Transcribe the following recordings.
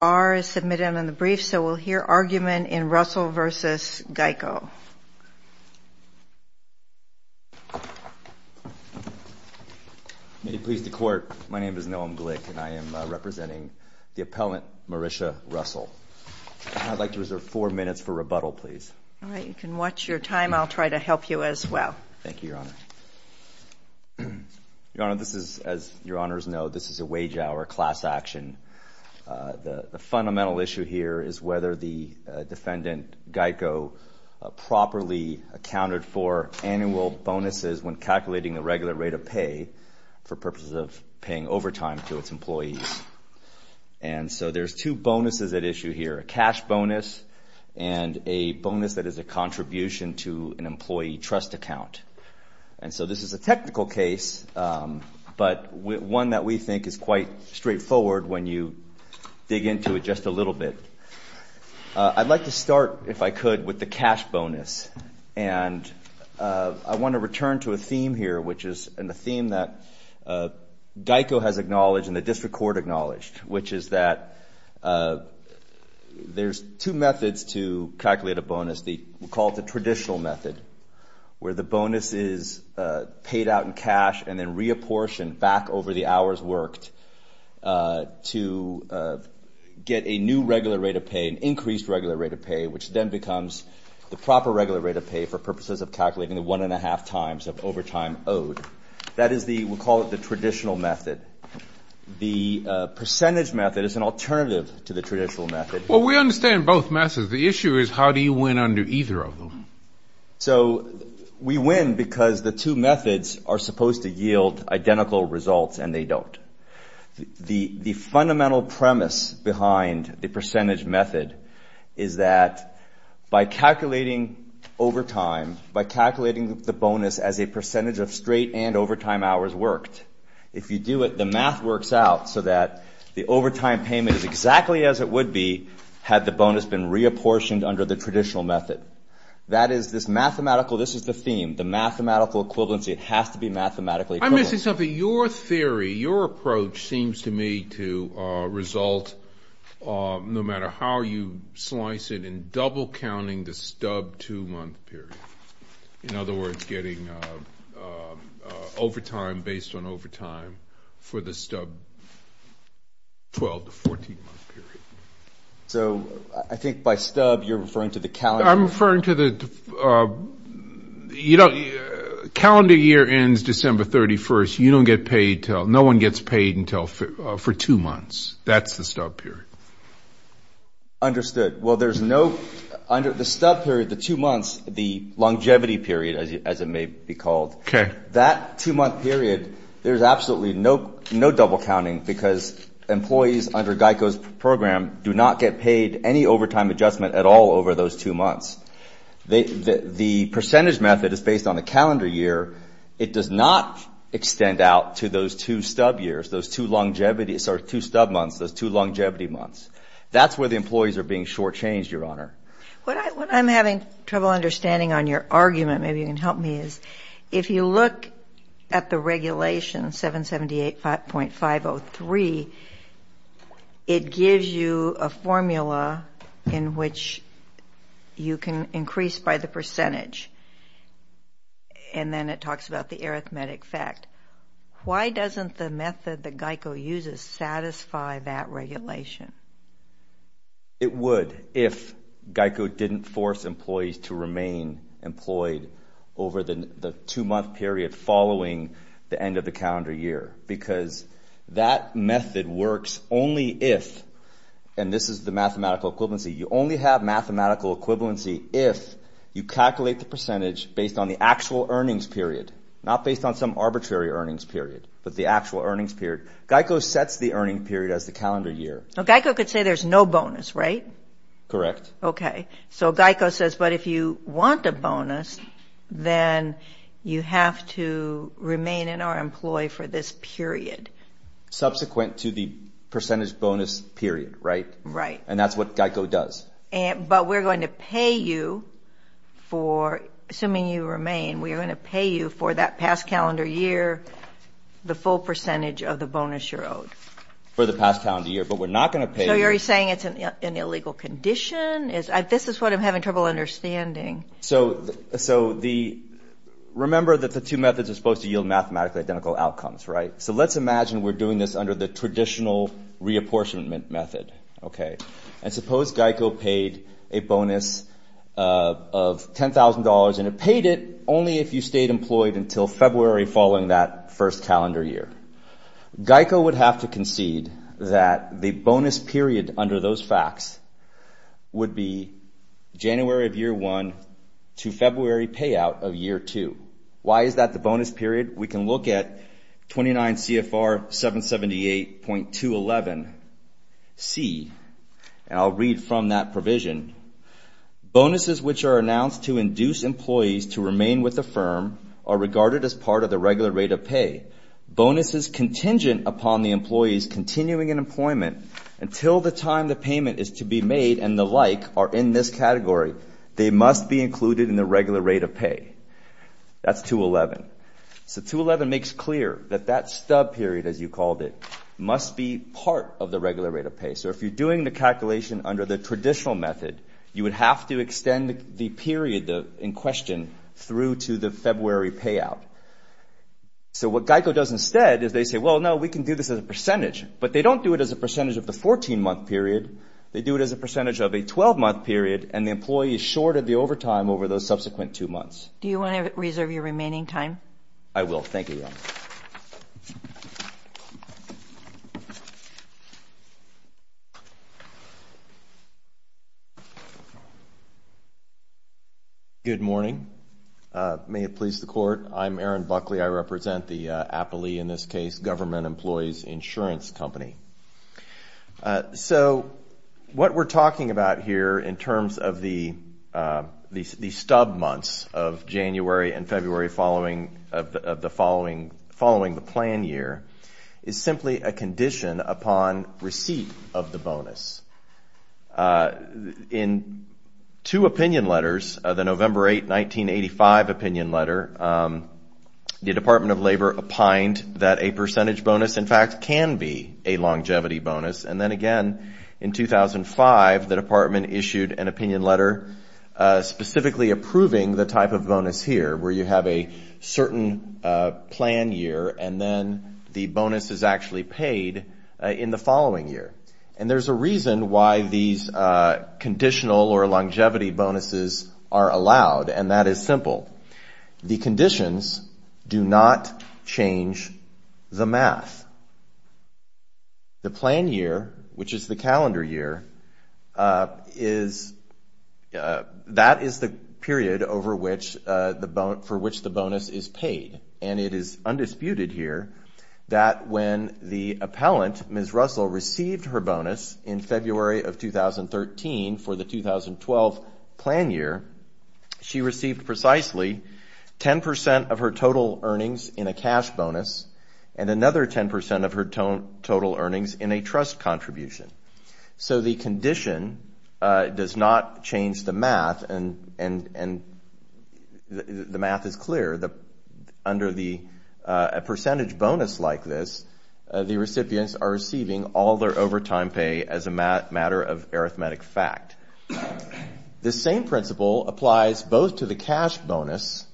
R. is submitted on the brief, so we'll hear argument in Russell v. GEICO. May it please the Court, my name is Noam Glick, and I am representing the appellant Marisha Russell. I'd like to reserve four minutes for rebuttal, please. All right, you can watch your time. I'll try to help you as well. Thank you, Your Honor. Your Honor, this is, as Your Honors know, this is a wage-hour class action. The fundamental issue here is whether the defendant, GEICO, properly accounted for annual bonuses when calculating the regular rate of pay for purposes of paying overtime to its employees. And so there's two bonuses at issue here, a cash bonus and a bonus that is a contribution to an employee trust account. And so this is a technical case, but one that we think is quite straightforward when you dig into it just a little bit. I'd like to start, if I could, with the cash bonus. And I want to return to a theme here, which is a theme that GEICO has acknowledged and the district court acknowledged, which is that there's two methods to calculate a bonus. We call it the traditional method, where the bonus is paid out in cash and then reapportioned back over the hours worked to get a new regular rate of pay, an increased regular rate of pay, which then becomes the proper regular rate of pay for purposes of calculating the one-and-a-half times of overtime owed. That is the we call it the traditional method. The percentage method is an alternative to the traditional method. Well, we understand both methods. The issue is how do you win under either of them? So we win because the two methods are supposed to yield identical results, and they don't. The fundamental premise behind the percentage method is that by calculating overtime, by calculating the bonus as a percentage of straight and overtime hours worked, if you do it, the math works out so that the overtime payment is exactly as it would be had the bonus been reapportioned under the traditional method. That is this mathematical, this is the theme, the mathematical equivalency. It has to be mathematically equivalent. I'm missing something. Your theory, your approach seems to me to result, no matter how you slice it, in double counting the stub two-month period. In other words, getting overtime based on overtime for the stub 12- to 14-month period. So I think by stub you're referring to the calendar. I'm referring to the calendar year ends December 31st. You don't get paid until, no one gets paid until for two months. That's the stub period. Understood. Well, there's no, under the stub period, the two months, the longevity period, as it may be called. Okay. That two-month period, there's absolutely no double counting because employees under GEICO's program do not get paid any overtime adjustment at all over those two months. The percentage method is based on the calendar year. It does not extend out to those two stub years, those two longevity, sorry, two stub months, those two longevity months. That's where the employees are being shortchanged, Your Honor. What I'm having trouble understanding on your argument, maybe you can help me, is if you look at the regulation, 778.503, it gives you a formula in which you can increase by the percentage. And then it talks about the arithmetic fact. Why doesn't the method that GEICO uses satisfy that regulation? It would if GEICO didn't force employees to remain employed over the two-month period following the end of the calendar year because that method works only if, and this is the mathematical equivalency, you only have mathematical equivalency if you calculate the percentage based on the actual earnings period, not based on some arbitrary earnings period, but the actual earnings period. GEICO sets the earning period as the calendar year. Now, GEICO could say there's no bonus, right? Correct. Okay. So GEICO says, but if you want a bonus, then you have to remain in our employee for this period. Subsequent to the percentage bonus period, right? Right. And that's what GEICO does. But we're going to pay you for, assuming you remain, we are going to pay you for that past calendar year the full percentage of the bonus you're owed. For the past calendar year, but we're not going to pay you. So you're saying it's an illegal condition? This is what I'm having trouble understanding. So remember that the two methods are supposed to yield mathematically identical outcomes, right? So let's imagine we're doing this under the traditional reapportionment method, okay? And suppose GEICO paid a bonus of $10,000, and it paid it only if you stayed employed until February following that first calendar year. GEICO would have to concede that the bonus period under those facts would be January of year one to February payout of year two. Why is that the bonus period? We can look at 29 CFR 778.211C, and I'll read from that provision. Bonuses which are announced to induce employees to remain with the firm are regarded as part of the regular rate of pay. Bonuses contingent upon the employees continuing in employment until the time the payment is to be made and the like are in this category. They must be included in the regular rate of pay. That's 211. So 211 makes clear that that stub period, as you called it, must be part of the regular rate of pay. So if you're doing the calculation under the traditional method, you would have to extend the period in question through to the February payout. So what GEICO does instead is they say, well, no, we can do this as a percentage, but they don't do it as a percentage of the 14-month period. They do it as a percentage of a 12-month period, and the employee is short of the overtime over those subsequent two months. Do you want to reserve your remaining time? I will. Thank you. Good morning. May it please the Court. I'm Aaron Buckley. I represent the APALE, in this case, Government Employees Insurance Company. So what we're talking about here in terms of the stub months of January and February following the plan year is simply a condition upon receipt of the bonus. In two opinion letters, the November 8, 1985 opinion letter, the Department of Labor opined that a percentage bonus, in fact, can be a longevity bonus, and then again in 2005 the department issued an opinion letter specifically approving the type of bonus here, where you have a certain plan year and then the bonus is actually paid in the following year. And there's a reason why these conditional or longevity bonuses are allowed, and that is simple. The conditions do not change the math. The plan year, which is the calendar year, that is the period for which the bonus is paid, and it is undisputed here that when the appellant, Ms. Russell, received her bonus in February of 2013 for the 2012 plan year, she received precisely 10 percent of her total earnings in a cash bonus and another 10 percent of her total earnings in a trust contribution. So the condition does not change the math, and the math is clear. Under a percentage bonus like this, the recipients are receiving all their overtime pay as a matter of arithmetic fact. This same principle applies both to the cash bonus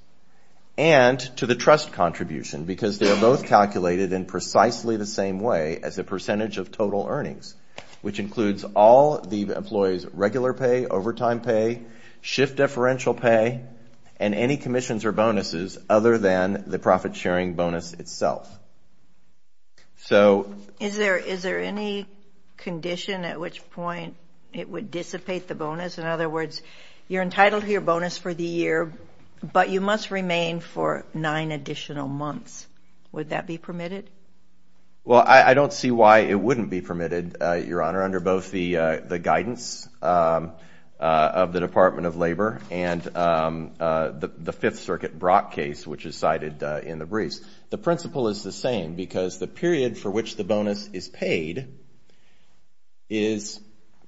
and to the trust contribution because they are both calculated in precisely the same way as a percentage of total earnings, which includes all the employee's regular pay, overtime pay, shift deferential pay, and any commissions or bonuses other than the profit-sharing bonus itself. Is there any condition at which point it would dissipate the bonus? In other words, you're entitled to your bonus for the year, but you must remain for nine additional months. Would that be permitted? Well, I don't see why it wouldn't be permitted, Your Honor, under both the guidance of the Department of Labor and the Fifth Circuit Brock case, which is cited in the briefs. The principle is the same because the period for which the bonus is paid is,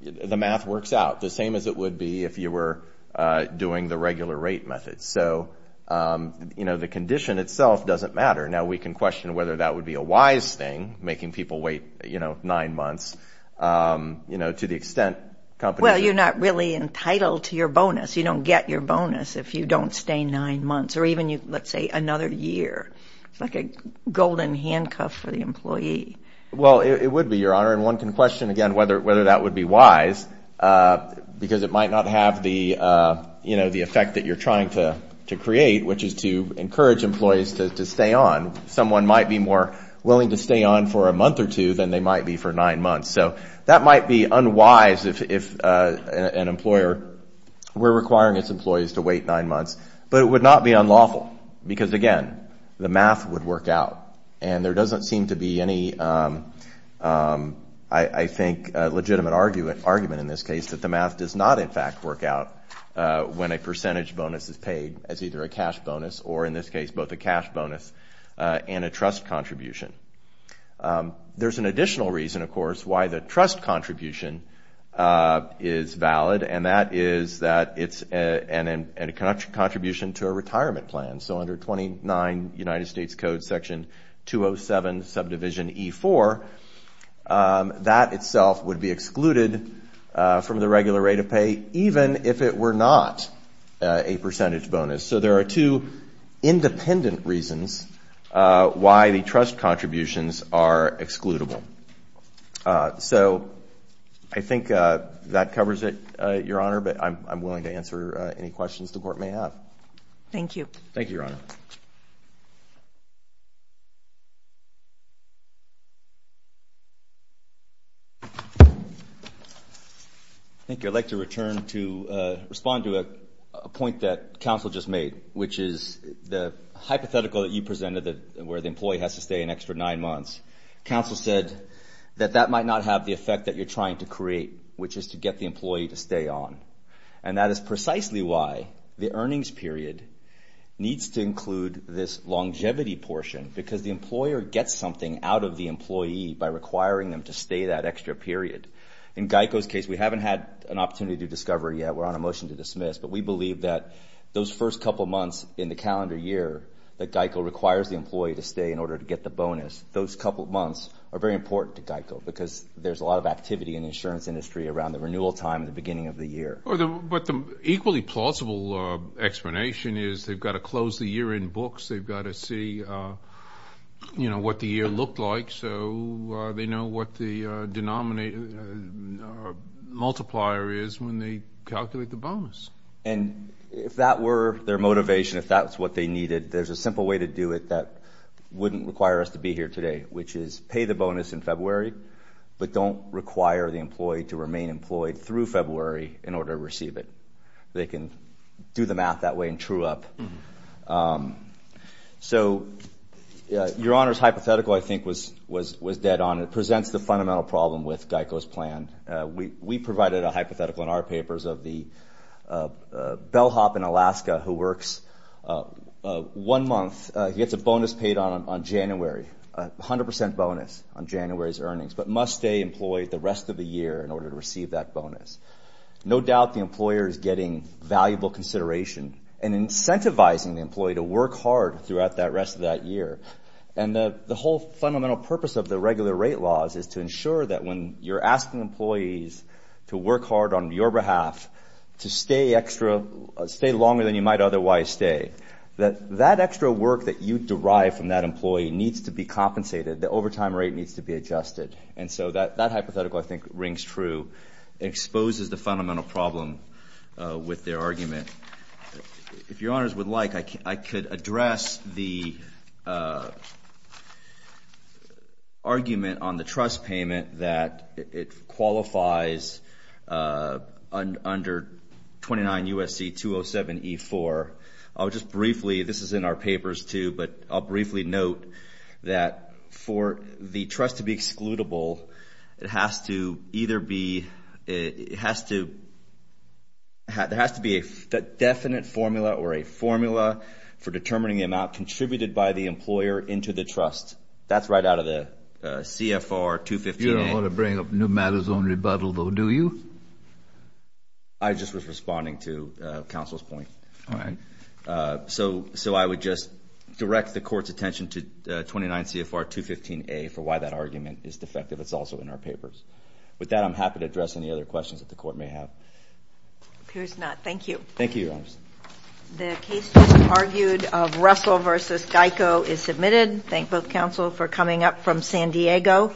the math works out, the same as it would be if you were doing the regular rate method. So, you know, the condition itself doesn't matter. Now we can question whether that would be a wise thing, making people wait, you know, nine months. You know, to the extent companies are- Well, you're not really entitled to your bonus. You don't get your bonus if you don't stay nine months or even, let's say, another year. It's like a golden handcuff for the employee. Well, it would be, Your Honor, and one can question, again, whether that would be wise because it might not have the, you know, the effect that you're trying to create, which is to encourage employees to stay on. Someone might be more willing to stay on for a month or two than they might be for nine months. So that might be unwise if an employer were requiring its employees to wait nine months. But it would not be unlawful because, again, the math would work out. And there doesn't seem to be any, I think, legitimate argument in this case that the math does not, in fact, work out when a percentage bonus is paid as either a cash bonus or, in this case, both a cash bonus and a trust contribution. There's an additional reason, of course, why the trust contribution is valid, and that is that it's a contribution to a retirement plan. So under 29 United States Code Section 207 Subdivision E-4, that itself would be excluded from the regular rate of pay even if it were not a percentage bonus. So there are two independent reasons why the trust contributions are excludable. So I think that covers it, Your Honor, but I'm willing to answer any questions the Court may have. Thank you. Thank you, Your Honor. Thank you. I'd like to return to respond to a point that counsel just made, which is the hypothetical that you presented where the employee has to stay an extra nine months. Counsel said that that might not have the effect that you're trying to create, which is to get the employee to stay on, and that is precisely why the earnings period needs to include this longevity portion because the employer gets something out of the employee by requiring them to stay that extra period. In GEICO's case, we haven't had an opportunity to discover yet. We're on a motion to dismiss, but we believe that those first couple months in the calendar year that GEICO requires the employee to stay in order to get the bonus, those couple months are very important to GEICO because there's a lot of activity in the insurance industry around the renewal time at the beginning of the year. But the equally plausible explanation is they've got to close the year in books. They've got to see, you know, what the year looked like, so they know what the multiplier is when they calculate the bonus. And if that were their motivation, if that's what they needed, there's a simple way to do it that wouldn't require us to be here today, which is pay the bonus in February, but don't require the employee to remain employed through February in order to receive it. They can do the math that way and true up. So your Honor's hypothetical I think was dead on. It presents the fundamental problem with GEICO's plan. We provided a hypothetical in our papers of the bellhop in Alaska who works one month, gets a bonus paid on January, 100% bonus on January's earnings, but must stay employed the rest of the year in order to receive that bonus. No doubt the employer is getting valuable consideration and incentivizing the employee to work hard throughout the rest of that year. And the whole fundamental purpose of the regular rate laws is to ensure that when you're asking employees to work hard on your behalf, to stay longer than you might otherwise stay, that that extra work that you derive from that employee needs to be compensated. The overtime rate needs to be adjusted. And so that hypothetical I think rings true. It exposes the fundamental problem with their argument. If Your Honors would like, I could address the argument on the trust payment that it qualifies under 29 U.S.C. 207E4. I'll just briefly, this is in our papers too, but I'll briefly note that for the trust to be excludable, it has to either be, it has to, there has to be a definite formula or a formula for determining the amount contributed by the employer into the trust. That's right out of the CFR 215A. You don't want to bring up new matters on rebuttal though, do you? I just was responding to counsel's point. All right. So I would just direct the court's attention to 29 CFR 215A for why that argument is defective. It's also in our papers. With that, I'm happy to address any other questions that the court may have. Appears not. Thank you. Thank you, Your Honors. The case just argued of Russell v. Geico is submitted. Thank both counsel for coming up from San Diego.